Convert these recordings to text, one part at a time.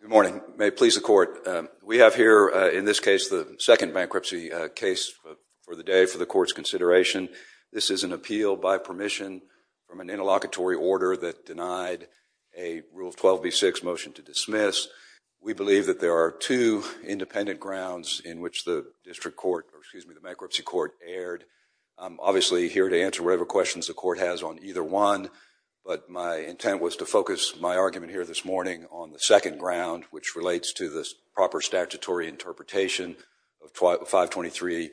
Good morning. May it please the Court. We have here in this case the second bankruptcy case for the day for the Court's consideration. This is an appeal by permission from an interlocutory order that denied a Rule 12b-6 motion to dismiss. We believe that there are two independent grounds in which the District Court, or excuse me, the Bankruptcy Court erred. I'm obviously here to answer whatever questions the Court has on either one, but my intent was to focus my argument here this morning on the second ground, which relates to the proper statutory interpretation of 523A,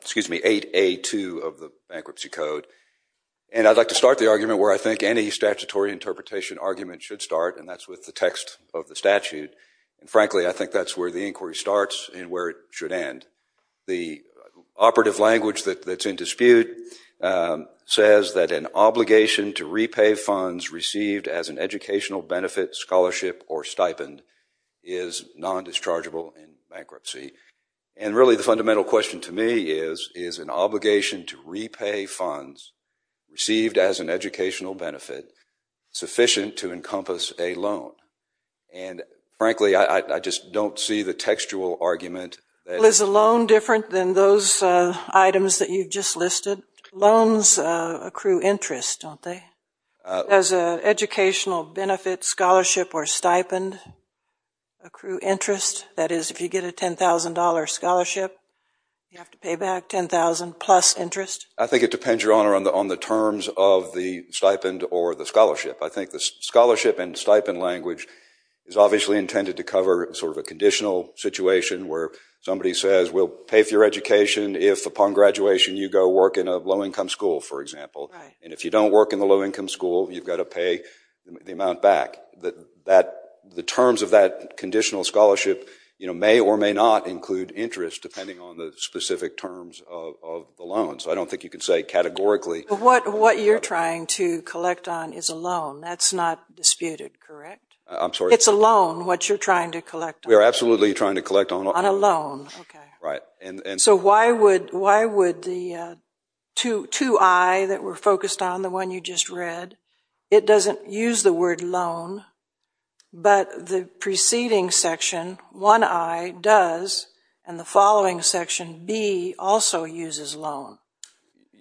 excuse me, 8A.2 of the Bankruptcy Code. And I'd like to start the argument where I think any statutory interpretation argument should start, and that's with the text of the statute. And frankly, I think that's where the inquiry starts and where it should end. The operative language that's in dispute says that an obligation to repay funds received as an educational benefit, scholarship, or stipend is non-dischargeable in bankruptcy. And really the fundamental question to me is, is an obligation to repay funds received as an educational benefit sufficient to encompass a loan? And frankly, I just don't see the textual argument. Is a loan different than those items that you've just listed? Loans accrue interest, don't they? As an educational benefit, scholarship, or stipend accrue interest? That is, if you get a $10,000 scholarship, you have to pay back $10,000 plus interest? I think it depends, Your Honor, on the terms of the stipend or the scholarship. I think the scholarship and stipend language is obviously intended to cover sort of a conditional situation where somebody says, we'll pay for your education if upon graduation you go work in a low-income school, for example. And if you don't work in a low-income school, you've got to pay the amount back. The terms of that conditional scholarship may or may not include interest depending on the specific terms of the loan. So I don't think you can say categorically. What you're trying to collect on is a loan. That's not disputed, correct? I'm sorry? It's a loan, what you're trying to collect on? We are absolutely trying to collect on a loan. So why would the two I that were focused on, the one you just read, it doesn't use the word loan, but the preceding section, one I, does, and the following section, B, also uses loan?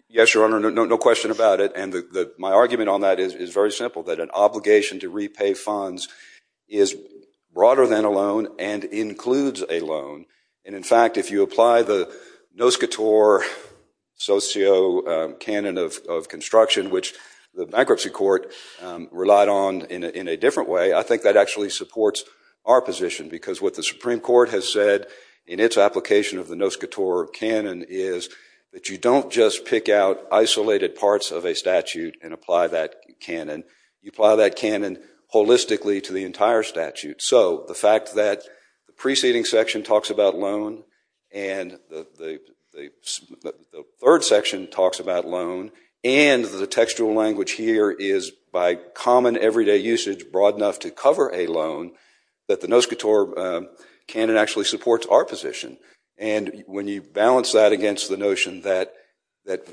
Yes, Your Honor, no question about it. And my argument on that is very simple, that an obligation to repay funds is broader than a loan and includes a loan. And in fact, if you apply the Noscator Socio-Canon of Construction, which the bankruptcy court relied on in a different way, I think that actually supports our position. Because what the Supreme Court has said in its application of the Noscator Canon is that you don't just pick out isolated parts of a statute and apply that canon. You apply that canon holistically to the entire statute. So the fact that the preceding section talks about loan, and the third section talks about loan, and the textual language here is, by common everyday usage, broad enough to cover a loan that the Noscator Canon actually supports our position. And when you balance that against the notion that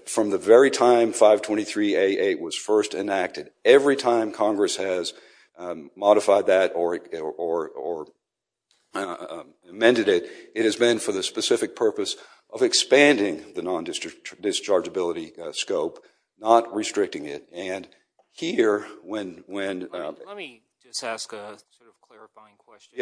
from the very time 523A8 was first enacted, every time Congress has modified that or amended it, it has been for the specific purpose of expanding the non-dischargeability scope, not restricting it. Let me just ask a clarifying question.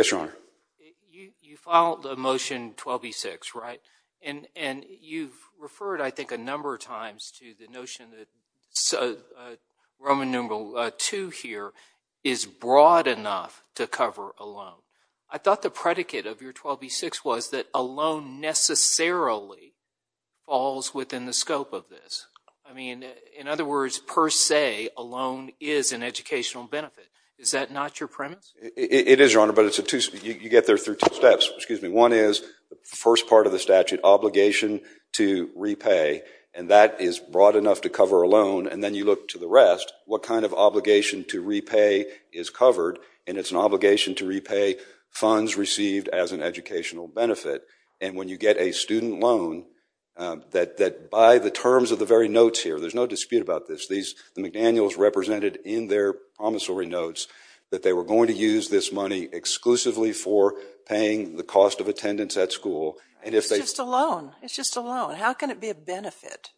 You filed a motion 12B6, right? And you've referred I think a number of times to the notion that Roman numeral II here is broad enough to cover a loan. I thought the predicate of your 12B6 was that a loan necessarily falls within the is an educational benefit. Is that not your premise? It is, Your Honor, but you get there through two steps. One is the first part of the statute, obligation to repay, and that is broad enough to cover a loan. And then you look to the rest, what kind of obligation to repay is covered, and it's an obligation to repay funds received as an educational benefit. And when you get a student loan that by the terms of the very notes here, there's no dispute about this, the McDaniels represented in their promissory notes that they were going to use this money exclusively for paying the cost of attendance at school. It's just a loan. It's just a loan. How can it be a benefit?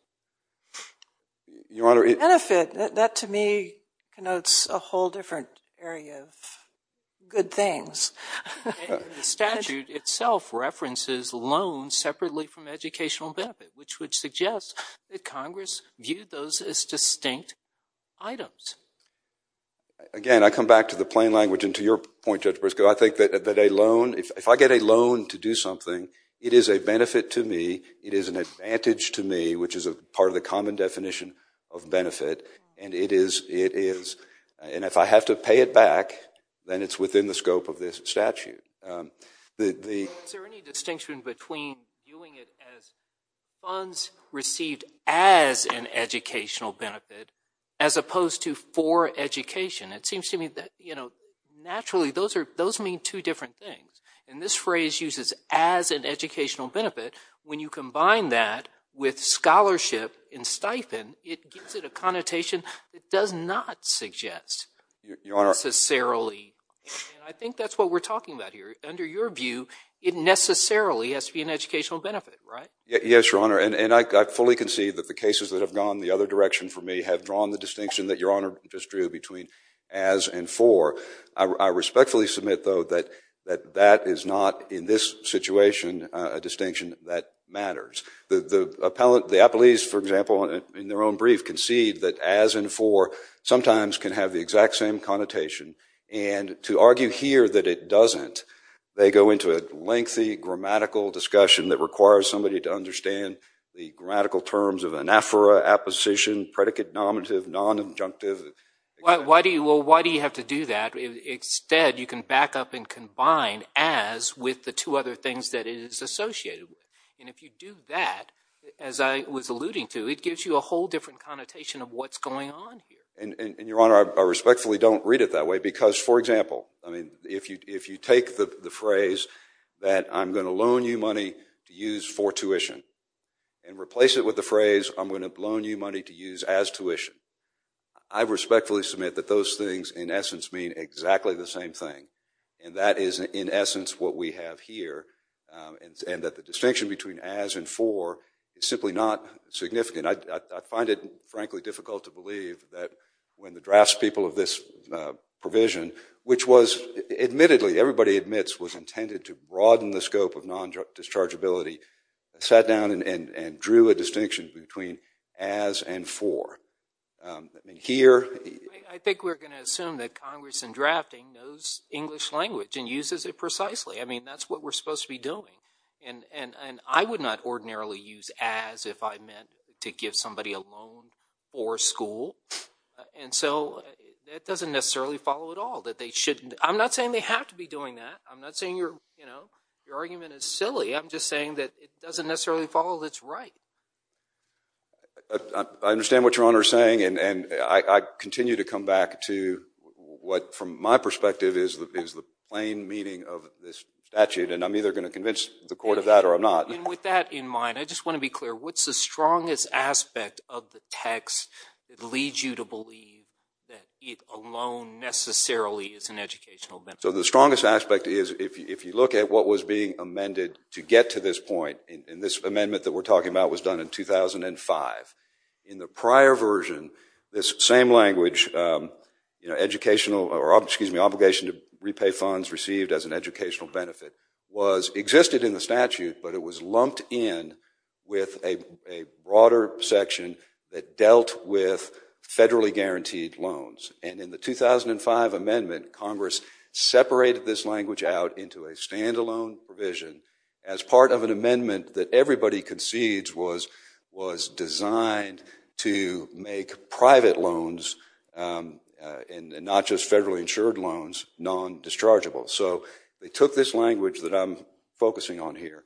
A benefit, that to me connotes a whole different area of good things. The statute itself references loans separately from educational benefit, which would suggest that Congress viewed those as distinct items. Again, I come back to the plain language and to your point, Judge Briscoe, I think that a loan, if I get a loan to do something, it is a benefit to me, it is an advantage to me, which is a part of the common definition of benefit, and it is, it is. And if I have to pay it back, then it's within the scope of this statute. Is there any distinction between viewing it as funds received as an educational benefit as opposed to for education? It seems to me that, you know, naturally those are, those mean two different things. And this phrase uses as an educational benefit, when you combine that with scholarship and stipend, it gives it a connotation that does not suggest necessarily. And I think that's what we're talking about here. Under your view, it necessarily has to be an educational benefit, right? Yes, Your Honor, and I fully concede that the cases that have gone the other direction for me have drawn the distinction that Your Honor just drew between as and for. I respectfully submit though that that is not in this situation a distinction that matters. The appellees, for example, in their own brief concede that as and for sometimes can have the exact same connotation. And to argue here that it doesn't, they go into a lengthy grammatical discussion that requires somebody to understand the grammatical terms of anaphora, apposition, predicate-nominative, non-adjunctive. Well, why do you have to do that? Instead, you can back up and combine as with the two other things that it is associated with. And if you do that, as I was alluding to, it gives you a whole different connotation of what's going on here. And Your Honor, I respectfully don't read it that way because, for example, if you take the phrase that I'm going to loan you money to use for tuition and replace it with the phrase I'm going to loan you money to use as tuition, I respectfully submit that those things in essence mean exactly the same thing. And that is in essence what we have here. And that the distinction between as and for is simply not significant. I find it frankly difficult to believe that when the draftspeople of this provision, which was admittedly, everybody admits, was intended to broaden the scope of non-dischargeability, sat down and drew a distinction between as and for. I think we're going to assume that Congress in drafting knows English language and uses it precisely. I mean, that's what we're supposed to be doing. And I would not ordinarily use as if I meant to give somebody a loan for school. And so that doesn't necessarily follow at all, that they shouldn't. I'm not saying they have to be doing that. I'm not saying your argument is silly. I'm just saying that it doesn't necessarily follow that's right. I understand what Your Honor is saying. And I continue to come back to what, from my perspective, is the plain meaning of this statute. And I'm either going to convince the court of that or I'm not. And with that in mind, I just want to be clear. What's the strongest aspect of the text that leads you to believe that a loan necessarily is an educational benefit? So the strongest aspect is, if you look at what was being amended to get to this point, and this amendment that we're talking about was done in 2005. In the prior version, this same language, educational, or excuse me, obligation to repay funds received as an educational benefit, existed in the statute, but it was lumped in with a broader section that dealt with federally guaranteed loans. And in the 2005 amendment, Congress separated this language out into a standalone provision as part of an amendment that everybody concedes was designed to make private loans, and not just federally insured loans, non-dischargeable. So they used this language that I'm focusing on here.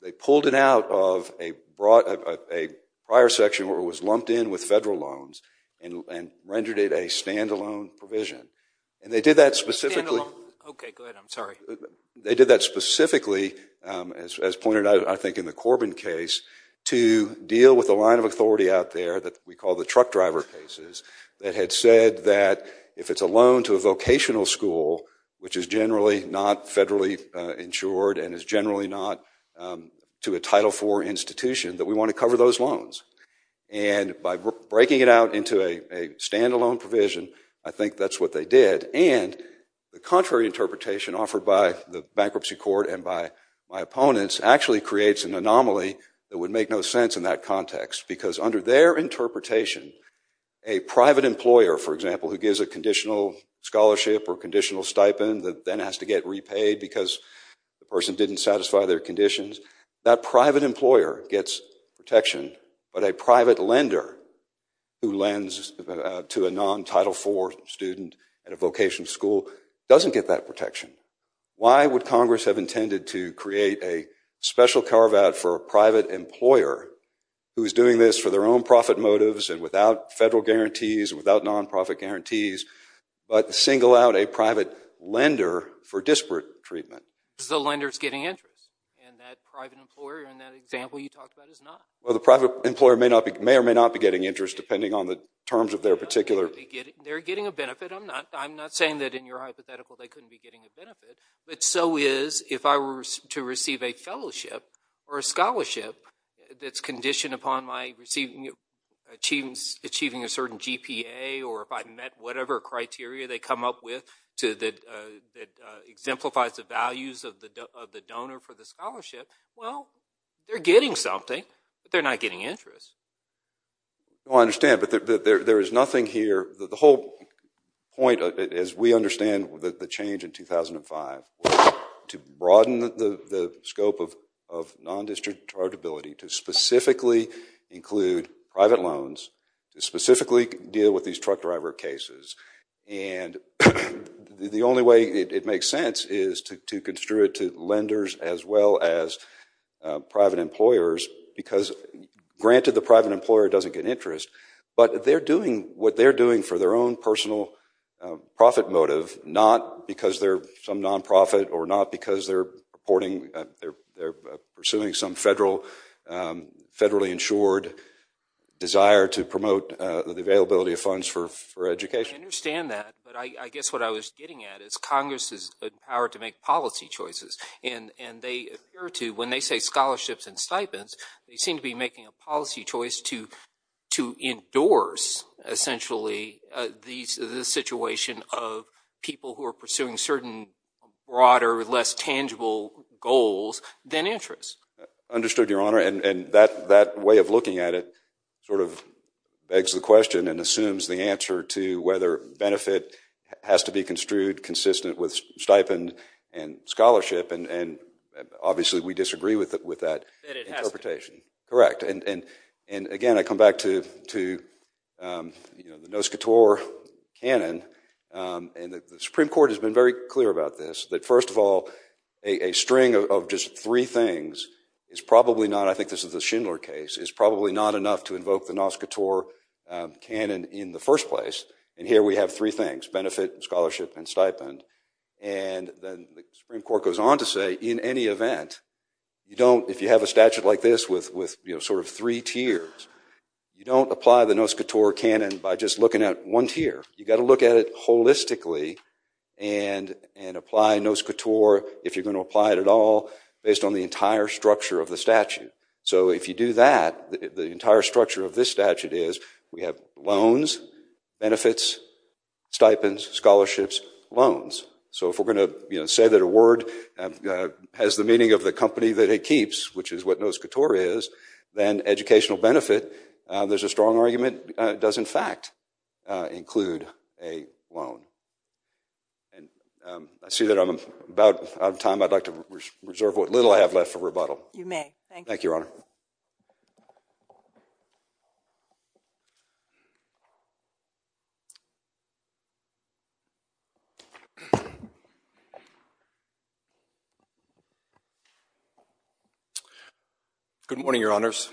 They pulled it out of a prior section where it was lumped in with federal loans and rendered it a standalone provision. And they did that specifically as pointed out, I think, in the Corbin case, to deal with the line of authority out there that we call the truck driver cases that had said that if it's a loan to a vocational school which is generally not federally insured and is generally not to a Title IV institution that we want to cover those loans. And by breaking it out into a standalone provision, I think that's what they did. And the contrary interpretation offered by the Bankruptcy Court and by my opponents actually creates an anomaly that would make no sense in that context, because under their interpretation, a private employer, for example, who gives a conditional scholarship or conditional stipend that then has to get repaid because the person didn't satisfy their conditions, that private employer gets protection. But a private lender who lends to a non-Title IV student at a vocational school doesn't get that protection. Why would Congress have intended to create a special carve-out for a private employer who is doing this for their own profit motives and without federal guarantees, without non-profit guarantees, but single out a private lender for disparate treatment? The lender's getting interest, and that private employer in that example you talked about is not. Well, the private employer may or may not be getting interest depending on the terms of their particular... They're getting a benefit. I'm not saying that in your hypothetical they couldn't be getting a benefit, but so is if I were to receive a fellowship or a scholarship that's conditioned upon my achieving a certain GPA or if I met whatever criteria they come up with that exemplifies the values of the donor for the scholarship, well, they're getting something, but they're not getting interest. No, I understand, but there is nothing here... The whole point, as we understand the change in 2005, was to broaden the scope of non-discrete charitability, to specifically include private loans, to specifically deal with these truck driver cases, and the only way it makes sense is to construe it to lenders as well as private employers, because granted the private employer doesn't get interest, but they're doing what they're doing for their own personal profit motive, not because they're some non-profit or not because they're pursuing some federally insured desire to promote the availability of funds for education. I understand that, but I guess what I was getting at is Congress is empowered to make policy choices, and they appear to, when they say scholarships and stipends, they seem to be making a policy choice to endorse, essentially, the situation of people who are pursuing certain broader, less tangible goals than interest. Understood, Your Honor, and that way of looking at it sort of begs the question and assumes the answer to whether benefit has to be construed consistent with stipend and scholarship, and obviously we disagree with that interpretation. Correct, and again, I come back to the NOSCOTOR canon, and the Supreme Court has been very clear about this, that first of all, a string of just three things is probably not, I think this is the Schindler case, is probably not enough to invoke the NOSCOTOR canon in the first place, and here we have three things, benefit, scholarship, and stipend, and then the Supreme Court goes on to say, in any event, you don't, if you have a statute like this with sort of three tiers, you don't apply the NOSCOTOR canon by just looking at one tier. You've got to look at it holistically and apply NOSCOTOR, if you're going to apply it at all, based on the entire structure of the statute. So if you do that, the entire structure of this statute is we have loans, benefits, stipends, scholarships, loans. So if we're going to say that a word has the meaning of the company that it keeps, which is what NOSCOTOR is, then educational benefit, there's a strong argument, does in fact include a loan. And I see that I'm about out of time. I'd like to reserve what little I have left for rebuttal. You may, thank you. Thank you, Your Honor. Good morning, Your Honors.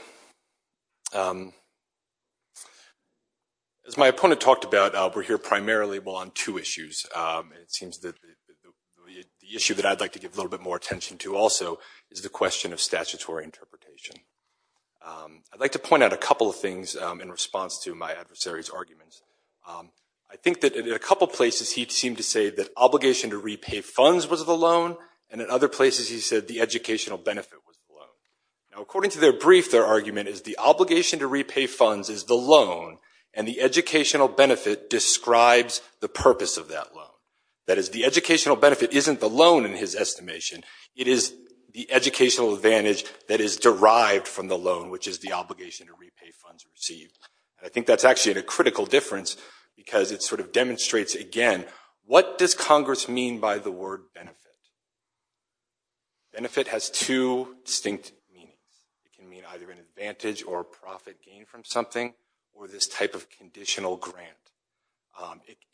As my opponent talked about, we're here primarily on two issues. It seems that the issue that I'd like to give a little bit more attention to also is the question of statutory interpretation. I'd like to point out a couple of things in response to my adversary's arguments. I think that in a couple places, he seemed to say that obligation to repay funds was the loan, and in other places, he said the educational benefit was the loan. Now, according to their brief, their argument is the obligation to repay funds is the loan, and the educational benefit describes the purpose of that loan. That is, the educational benefit isn't the loan in his estimation. It is the educational advantage that is derived from the loan, which is the obligation to repay funds received. And I think that's actually a critical difference because it sort of demonstrates again, what does Congress mean by the word benefit? Benefit has two distinct meanings. It can mean either an advantage or profit gained from something or this type of conditional grant.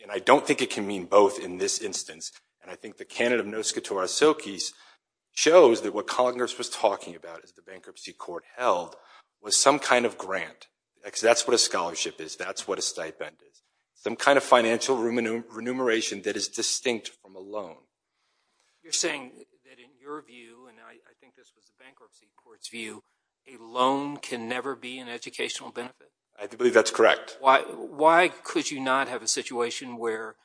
And I don't think it can mean both in this instance. And I think the candidate of Noscatorra Silkis shows that what Congress was talking about, as the bankruptcy court held, was some kind of grant. That's what a scholarship is. That's what a stipend is. You're saying that in your view, and I think this was the bankruptcy court's view, a loan can never be an educational benefit? I believe that's correct. Why could you not have a situation where,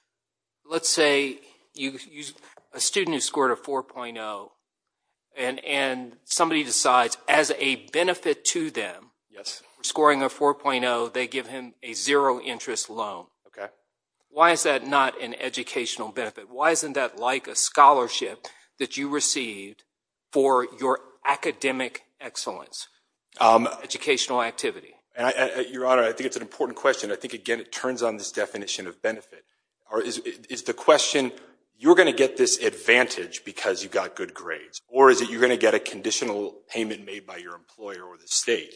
let's say, a student who scored a 4.0, and somebody decides as a benefit to them, Yes. Scoring a 4.0, they give him a zero interest loan. Okay. Why is that not an educational benefit? Why isn't that like a scholarship that you received for your academic excellence, educational activity? Your Honor, I think it's an important question. I think, again, it turns on this definition of benefit. Or is the question, you're going to get this advantage because you got good grades, or is it you're going to get a conditional payment made by your employer or the state?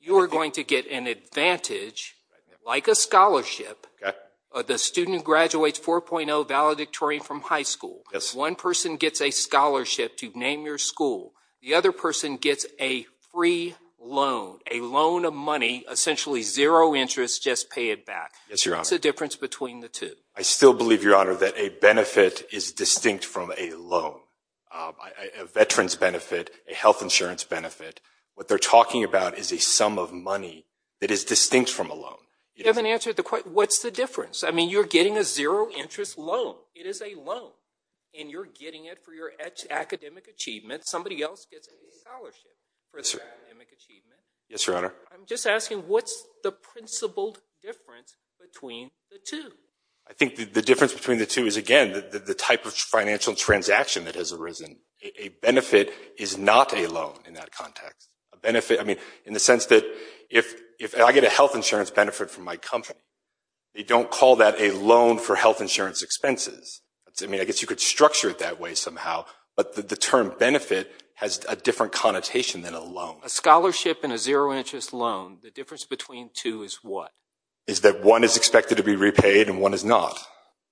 You are going to get an advantage, like a scholarship, the student graduates 4.0 valedictorian from high school. Yes. One person gets a scholarship to name your school. The other person gets a free loan, a loan of money, essentially zero interest, just pay it back. Yes, Your Honor. What's the difference between the two? I still believe, Your Honor, that a benefit is distinct from a loan. A veteran's benefit, a health insurance benefit, what they're talking about is a sum of money that is distinct from a loan. You haven't answered the question. What's the difference? I mean, you're getting a zero interest loan. It is a loan, and you're getting it for your academic achievement. Somebody else gets a scholarship for their academic achievement. Yes, Your Honor. I'm just asking, what's the principled difference between the two? I think the difference between the two is, again, the type of financial transaction that has arisen. A benefit is not a loan in that context. A benefit, I mean, in the sense that if I get a health insurance benefit from my company, they don't call that a loan for health insurance expenses. I mean, I guess you could structure it that way somehow, but the term benefit has a different connotation than a loan. A scholarship and a zero interest loan, the difference between two is what? Is that one is expected to be repaid and one is not.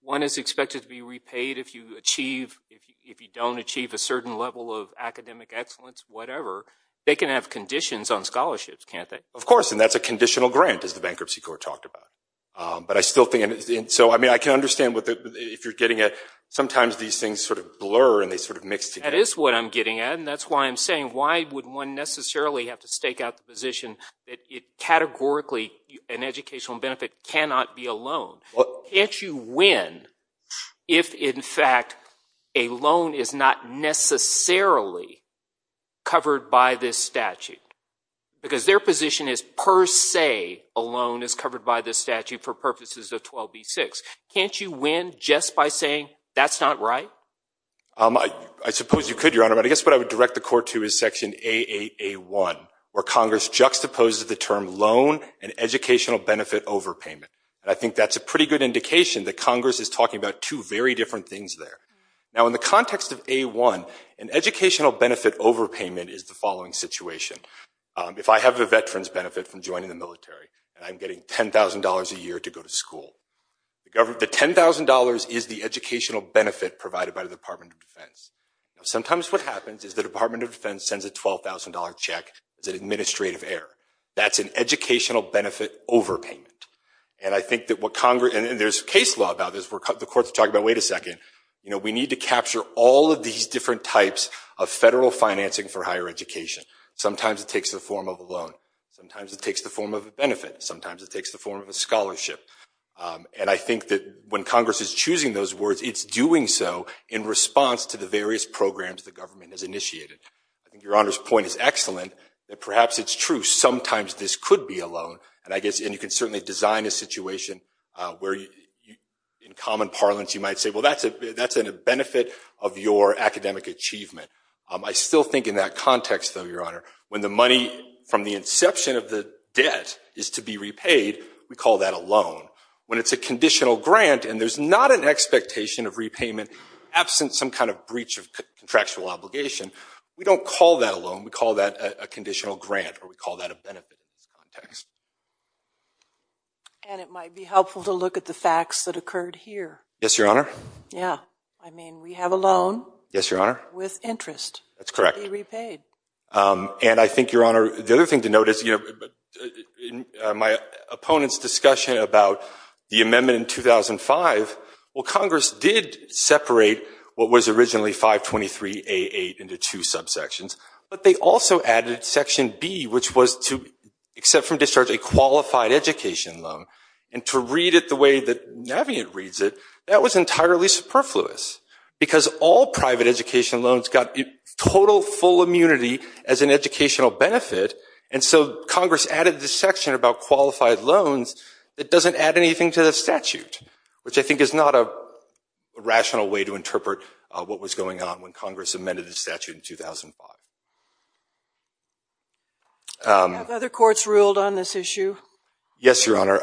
One is expected to be repaid if you achieve, if you don't achieve a certain level of academic excellence, whatever, they can have conditions on scholarships, can't they? Of course, and that's a conditional grant, as the Bankruptcy Court talked about. But I still think, and so, I mean, I can understand if you're getting it, sometimes these things sort of blur and they sort of mix together. That is what I'm getting at, and that's why I'm saying, why would one necessarily have to stake out the position that categorically an educational benefit cannot be a loan? Can't you win if, in fact, a loan is not necessarily covered by this statute? Because their position is, per se, a loan is covered by this statute for purposes of 12b-6. Can't you win just by saying that's not right? I suppose you could, Your Honor, but I guess what I would direct the court to is section A8-A1, where Congress juxtaposes the term loan and educational benefit overpayment. I think that's a pretty good indication that Congress is talking about two very different things there. Now, in the context of A1, an educational benefit overpayment is the following situation. If I have a veteran's benefit from joining the military and I'm getting $10,000 a year to go to school, the $10,000 is the educational benefit provided by the Department of Defense. Sometimes what happens is the Department of Defense sends a $12,000 check as an administrative error. That's an educational benefit overpayment. And I think that what Congress—and there's case law about this. The court's talking about, wait a second. You know, we need to capture all of these different types of federal financing for higher education. Sometimes it takes the form of a loan. Sometimes it takes the form of a benefit. Sometimes it takes the form of a scholarship. And I think that when Congress is choosing those words, it's doing so in response to the various programs the government has initiated. I think Your Honor's point is excellent. Perhaps it's true. Sometimes this could be a loan. And I guess—and you can certainly design a situation where in common parlance you might say, well, that's a benefit of your academic achievement. I still think in that context, though, Your Honor, when the money from the inception of the debt is to be repaid, we call that a loan. When it's a conditional grant and there's not an expectation of repayment absent some kind of breach of contractual obligation, we don't call that a loan. We call that a conditional grant or we call that a benefit in this context. And it might be helpful to look at the facts that occurred here. Yes, Your Honor. Yeah. I mean, we have a loan— Yes, Your Honor. —with interest— That's correct. —to be repaid. And I think, Your Honor, the other thing to note is in my opponent's discussion about the amendment in 2005, well, Congress did separate what was originally 523A8 into two subsections, but they also added Section B, which was to, except from discharge, a qualified education loan. And to read it the way that Navient reads it, that was entirely superfluous because all private education loans got total full immunity as an educational benefit. And so Congress added this section about qualified loans that doesn't add anything to the statute, which I think is not a rational way to interpret what was going on when Congress amended the statute in 2005. Have other courts ruled on this issue? Yes, Your Honor.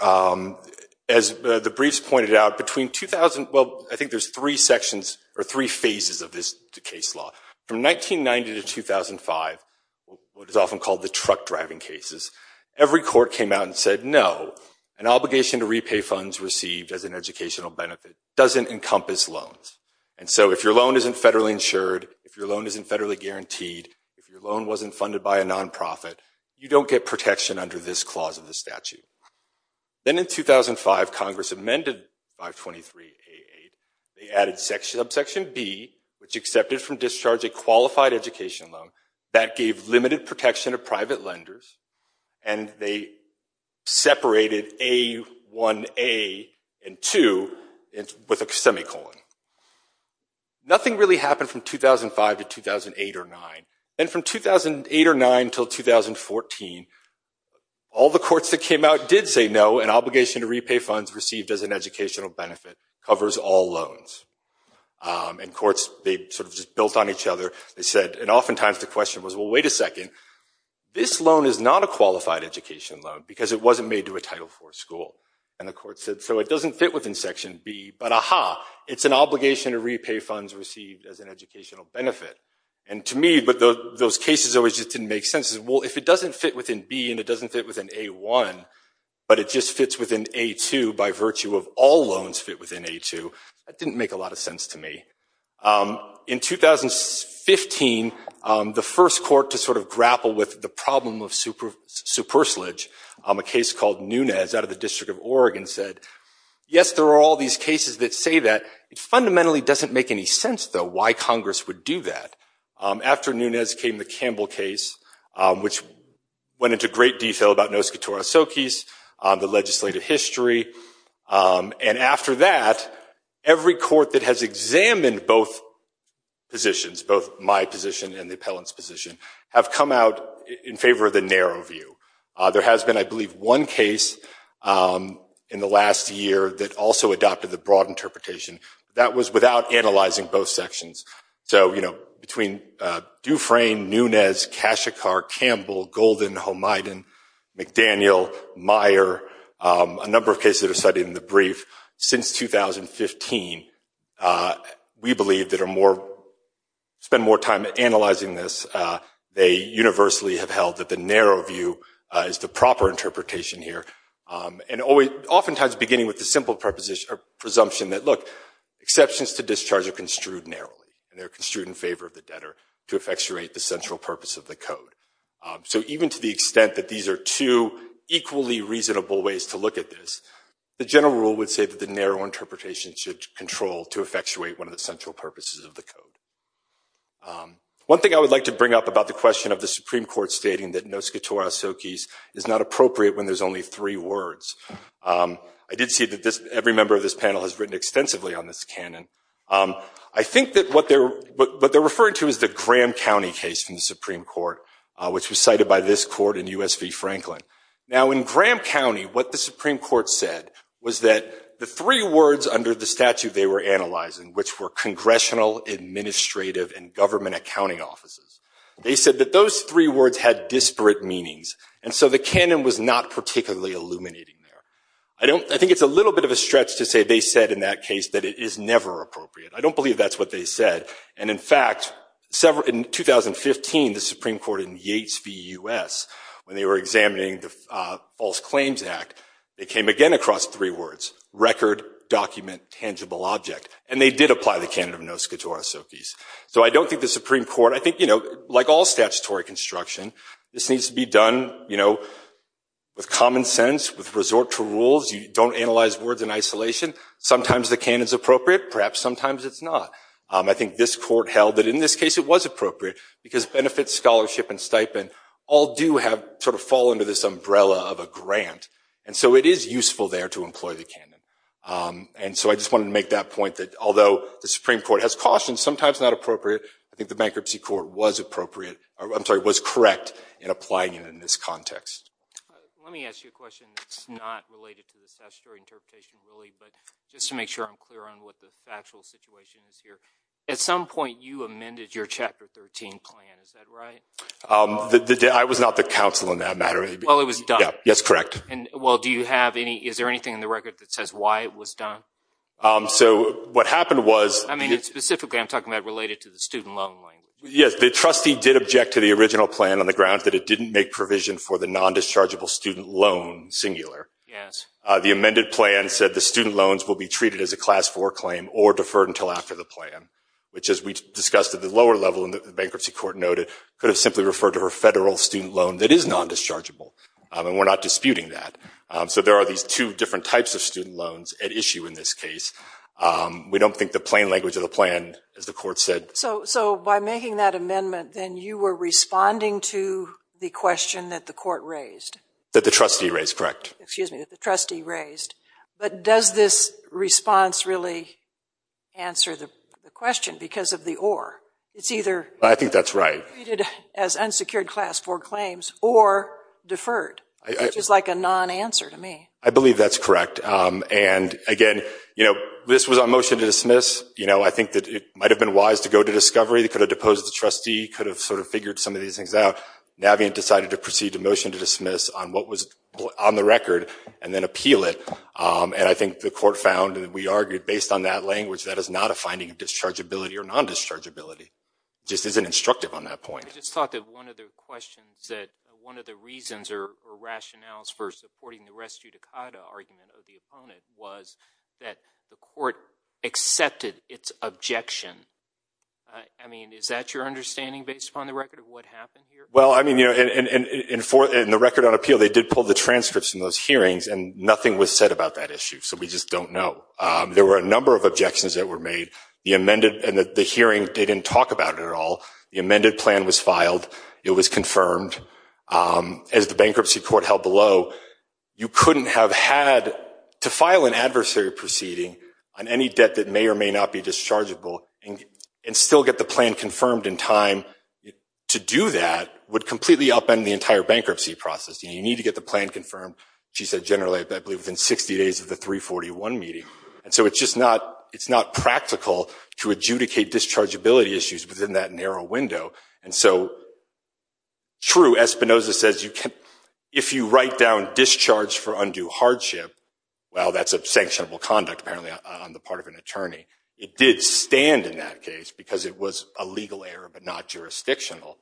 As the briefs pointed out, between 2000—well, I think there's three sections or three phases of this case law. From 1990 to 2005, what is often called the truck-driving cases, every court came out and said, no, an obligation to repay funds received as an educational benefit doesn't encompass loans. And so if your loan isn't federally insured, if your loan isn't federally guaranteed, if your loan wasn't funded by a nonprofit, you don't get protection under this clause of the statute. Then in 2005, Congress amended 523A8. They added subsection B, which excepted from discharge a qualified education loan that gave limited protection to private lenders, and they separated A1A and 2 with a semicolon. Nothing really happened from 2005 to 2008 or 2009. Then from 2008 or 2009 until 2014, all the courts that came out did say, no, an obligation to repay funds received as an educational benefit covers all loans. And courts, they sort of just built on each other. They said—and oftentimes the question was, well, wait a second, this loan is not a qualified education loan because it wasn't made to a Title IV school. And the court said, so it doesn't fit within Section B, but ah-ha, it's an obligation to repay funds received as an educational benefit. And to me, but those cases always just didn't make sense. Well, if it doesn't fit within B and it doesn't fit within A1, but it just fits within A2 by virtue of all loans fit within A2, that didn't make a lot of sense to me. In 2015, the first court to sort of grapple with the problem of supersalage, a case called Nunez out of the District of Oregon, said, yes, there are all these cases that say that. It fundamentally doesn't make any sense, though, why Congress would do that. After Nunez came the Campbell case, which went into great detail about nos catora socis, the legislative history. And after that, every court that has examined both positions, both my position and the appellant's position, have come out in favor of the narrow view. There has been, I believe, one case in the last year that also adopted the broad interpretation. That was without analyzing both sections. So between Dufresne, Nunez, Kashikar, Campbell, Golden, Hohmiden, McDaniel, Meyer, a number of cases that are studied in the brief, since 2015, we believe that are more, spend more time analyzing this. They universally have held that the narrow view is the proper interpretation here. And oftentimes, beginning with the simple presumption that, look, exceptions to discharge are construed narrowly, and they're construed in favor of the debtor to effectuate the central purpose of the code. So even to the extent that these are two equally reasonable ways to look at this, the general rule would say that the narrow interpretation should control to effectuate one of the central purposes of the code. One thing I would like to bring up about the question of the Supreme Court stating that nos quatora socis is not appropriate when there's only three words. I did see that every member of this panel has written extensively on this canon. I think that what they're referring to is the Graham County case from the Supreme Court, which was cited by this court in US v. Franklin. Now, in Graham County, what the Supreme Court said was that the three words under the statute they were analyzing, which were congressional, administrative, and government accounting offices, they said that those three words had disparate meanings. And so the canon was not particularly illuminating there. I think it's a little bit of a stretch to say they said in that case that it is never appropriate. I don't believe that's what they said. And in fact, in 2015, the Supreme Court in Yates v. US, when they were examining the record, document, tangible object. And they did apply the canon of nos quatora socis. So I don't think the Supreme Court, I think like all statutory construction, this needs to be done with common sense, with resort to rules. You don't analyze words in isolation. Sometimes the canon's appropriate. Perhaps sometimes it's not. I think this court held that in this case, it was appropriate because benefits, scholarship, and stipend all do sort of fall under this umbrella of a grant. And so it is useful there to employ the canon. And so I just wanted to make that point that although the Supreme Court has cautioned sometimes not appropriate, I think the bankruptcy court was appropriate, I'm sorry, was correct in applying it in this context. Let me ask you a question that's not related to the statutory interpretation really, but just to make sure I'm clear on what the factual situation is here. At some point, you amended your Chapter 13 plan. Is that right? I was not the counsel in that matter. Well, it was done. Yes, correct. Well, is there anything in the record that says why it was done? So what happened was— I mean, specifically, I'm talking about related to the student loan language. Yes, the trustee did object to the original plan on the grounds that it didn't make provision for the non-dischargeable student loan singular. Yes. The amended plan said the student loans will be treated as a Class 4 claim or deferred until after the plan, which as we discussed at the lower level in the bankruptcy court noted could have simply referred to a federal student loan that is non-dischargeable. And we're not disputing that. So there are these two different types of student loans at issue in this case. We don't think the plain language of the plan, as the court said— So by making that amendment, then you were responding to the question that the court raised? That the trustee raised, correct. Excuse me, that the trustee raised. But does this response really answer the question because of the or? It's either— I think that's right. As unsecured Class 4 claims or deferred, which is like a non-answer to me. I believe that's correct. And again, you know, this was on motion to dismiss. You know, I think that it might have been wise to go to discovery. They could have deposed the trustee, could have sort of figured some of these things out. Navient decided to proceed to motion to dismiss on what was on the record and then appeal it. And I think the court found, and we argued based on that language, that is not a finding of dischargeability or non-dischargeability. Just isn't instructive on that point. I just thought that one of the questions that— one of the reasons or rationales for supporting the res judicata argument of the opponent was that the court accepted its objection. I mean, is that your understanding based upon the record of what happened here? Well, I mean, you know, in the record on appeal, they did pull the transcripts from those hearings and nothing was said about that issue. So we just don't know. There were a number of objections that were made. The amended—and the hearing, they didn't talk about it at all. The amended plan was filed. It was confirmed. As the bankruptcy court held below, you couldn't have had—to file an adversary proceeding on any debt that may or may not be dischargeable and still get the plan confirmed in time, to do that would completely upend the entire bankruptcy process. You need to get the plan confirmed, she said generally, I believe within 60 days of the 341 meeting. And so it's just not—it's not practical to adjudicate dischargeability issues within that narrow window. And so, true, Espinoza says you can—if you write down discharge for undue hardship, well, that's a sanctionable conduct apparently on the part of an attorney. It did stand in that case because it was a legal error but not jurisdictional.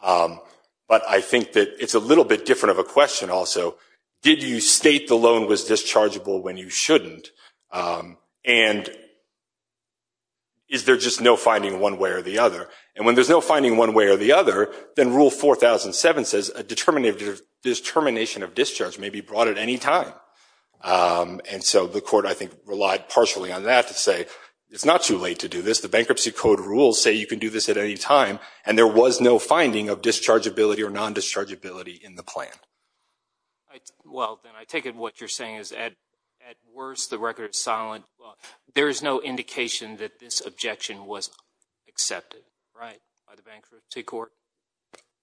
But I think that it's a little bit different of a question also. Did you state the loan was dischargeable when you shouldn't? And is there just no finding one way or the other? And when there's no finding one way or the other, then Rule 4007 says a determination of discharge may be brought at any time. And so the court, I think, relied partially on that to say, it's not too late to do this. The Bankruptcy Code rules say you can do this at any time and there was no finding of dischargeability or non-dischargeability in the plan. I—well, then I take it what you're saying is at worst, the record is solid. There is no indication that this objection was accepted, right, by the bankruptcy court?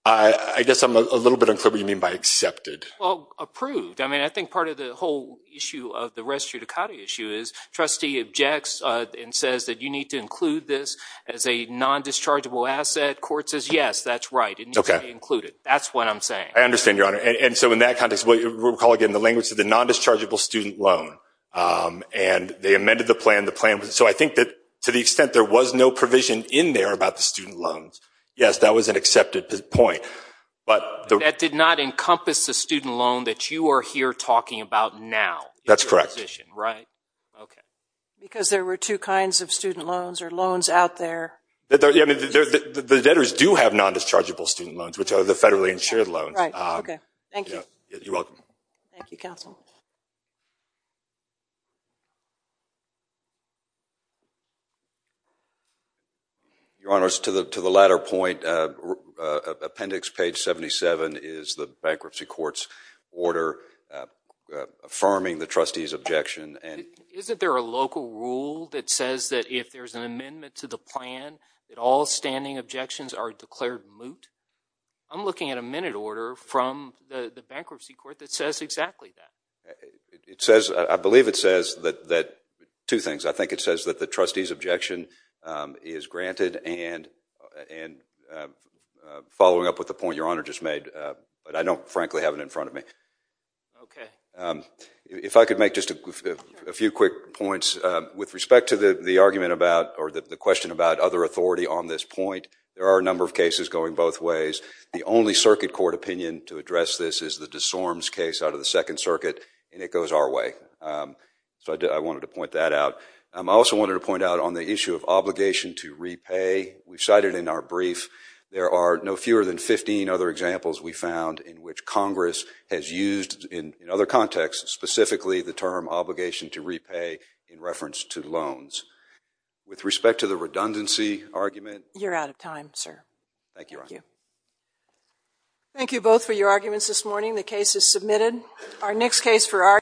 I guess I'm a little bit unclear what you mean by accepted. Well, approved. I mean, I think part of the whole issue of the res judicata issue is trustee objects and says that you need to include this as a non-dischargeable asset. Court says, yes, that's right. It needs to be included. That's what I'm saying. I understand, Your Honor. And so in that context, we'll recall again the language of the non-dischargeable student loan. And they amended the plan, the plan. So I think that to the extent there was no provision in there about the student loans, yes, that was an accepted point. But that did not encompass the student loan that you are here talking about now. That's correct. Right. Okay. Because there were two kinds of student loans or loans out there. The debtors do have non-dischargeable student loans, which are the federally insured loans. Thank you. You're welcome. Thank you, counsel. Your Honor, to the latter point, appendix page 77 is the bankruptcy court's order affirming the trustee's objection. Isn't there a local rule that says that if there's an amendment to the plan, that all standing objections are declared moot? I'm looking at a minute order from the bankruptcy court that says exactly that. I believe it says that two things. I think it says that the trustee's objection is granted and following up with the point Your Honor just made. But I don't frankly have it in front of me. Okay. If I could make just a few quick points. With respect to the argument about or the question about other authority on this point, there are a number of cases going both ways. The only circuit court opinion to address this is the DeSormes case out of the Second Circuit, and it goes our way. So I wanted to point that out. I also wanted to point out on the issue of obligation to repay. We cited in our brief, there are no fewer than 15 other examples we found in which Congress has used in other contexts, specifically the term obligation to repay in reference to loans. With respect to the redundancy argument. You're out of time, sir. Thank you, Your Honor. Thank you both for your arguments this morning. The case is submitted. Our next case for our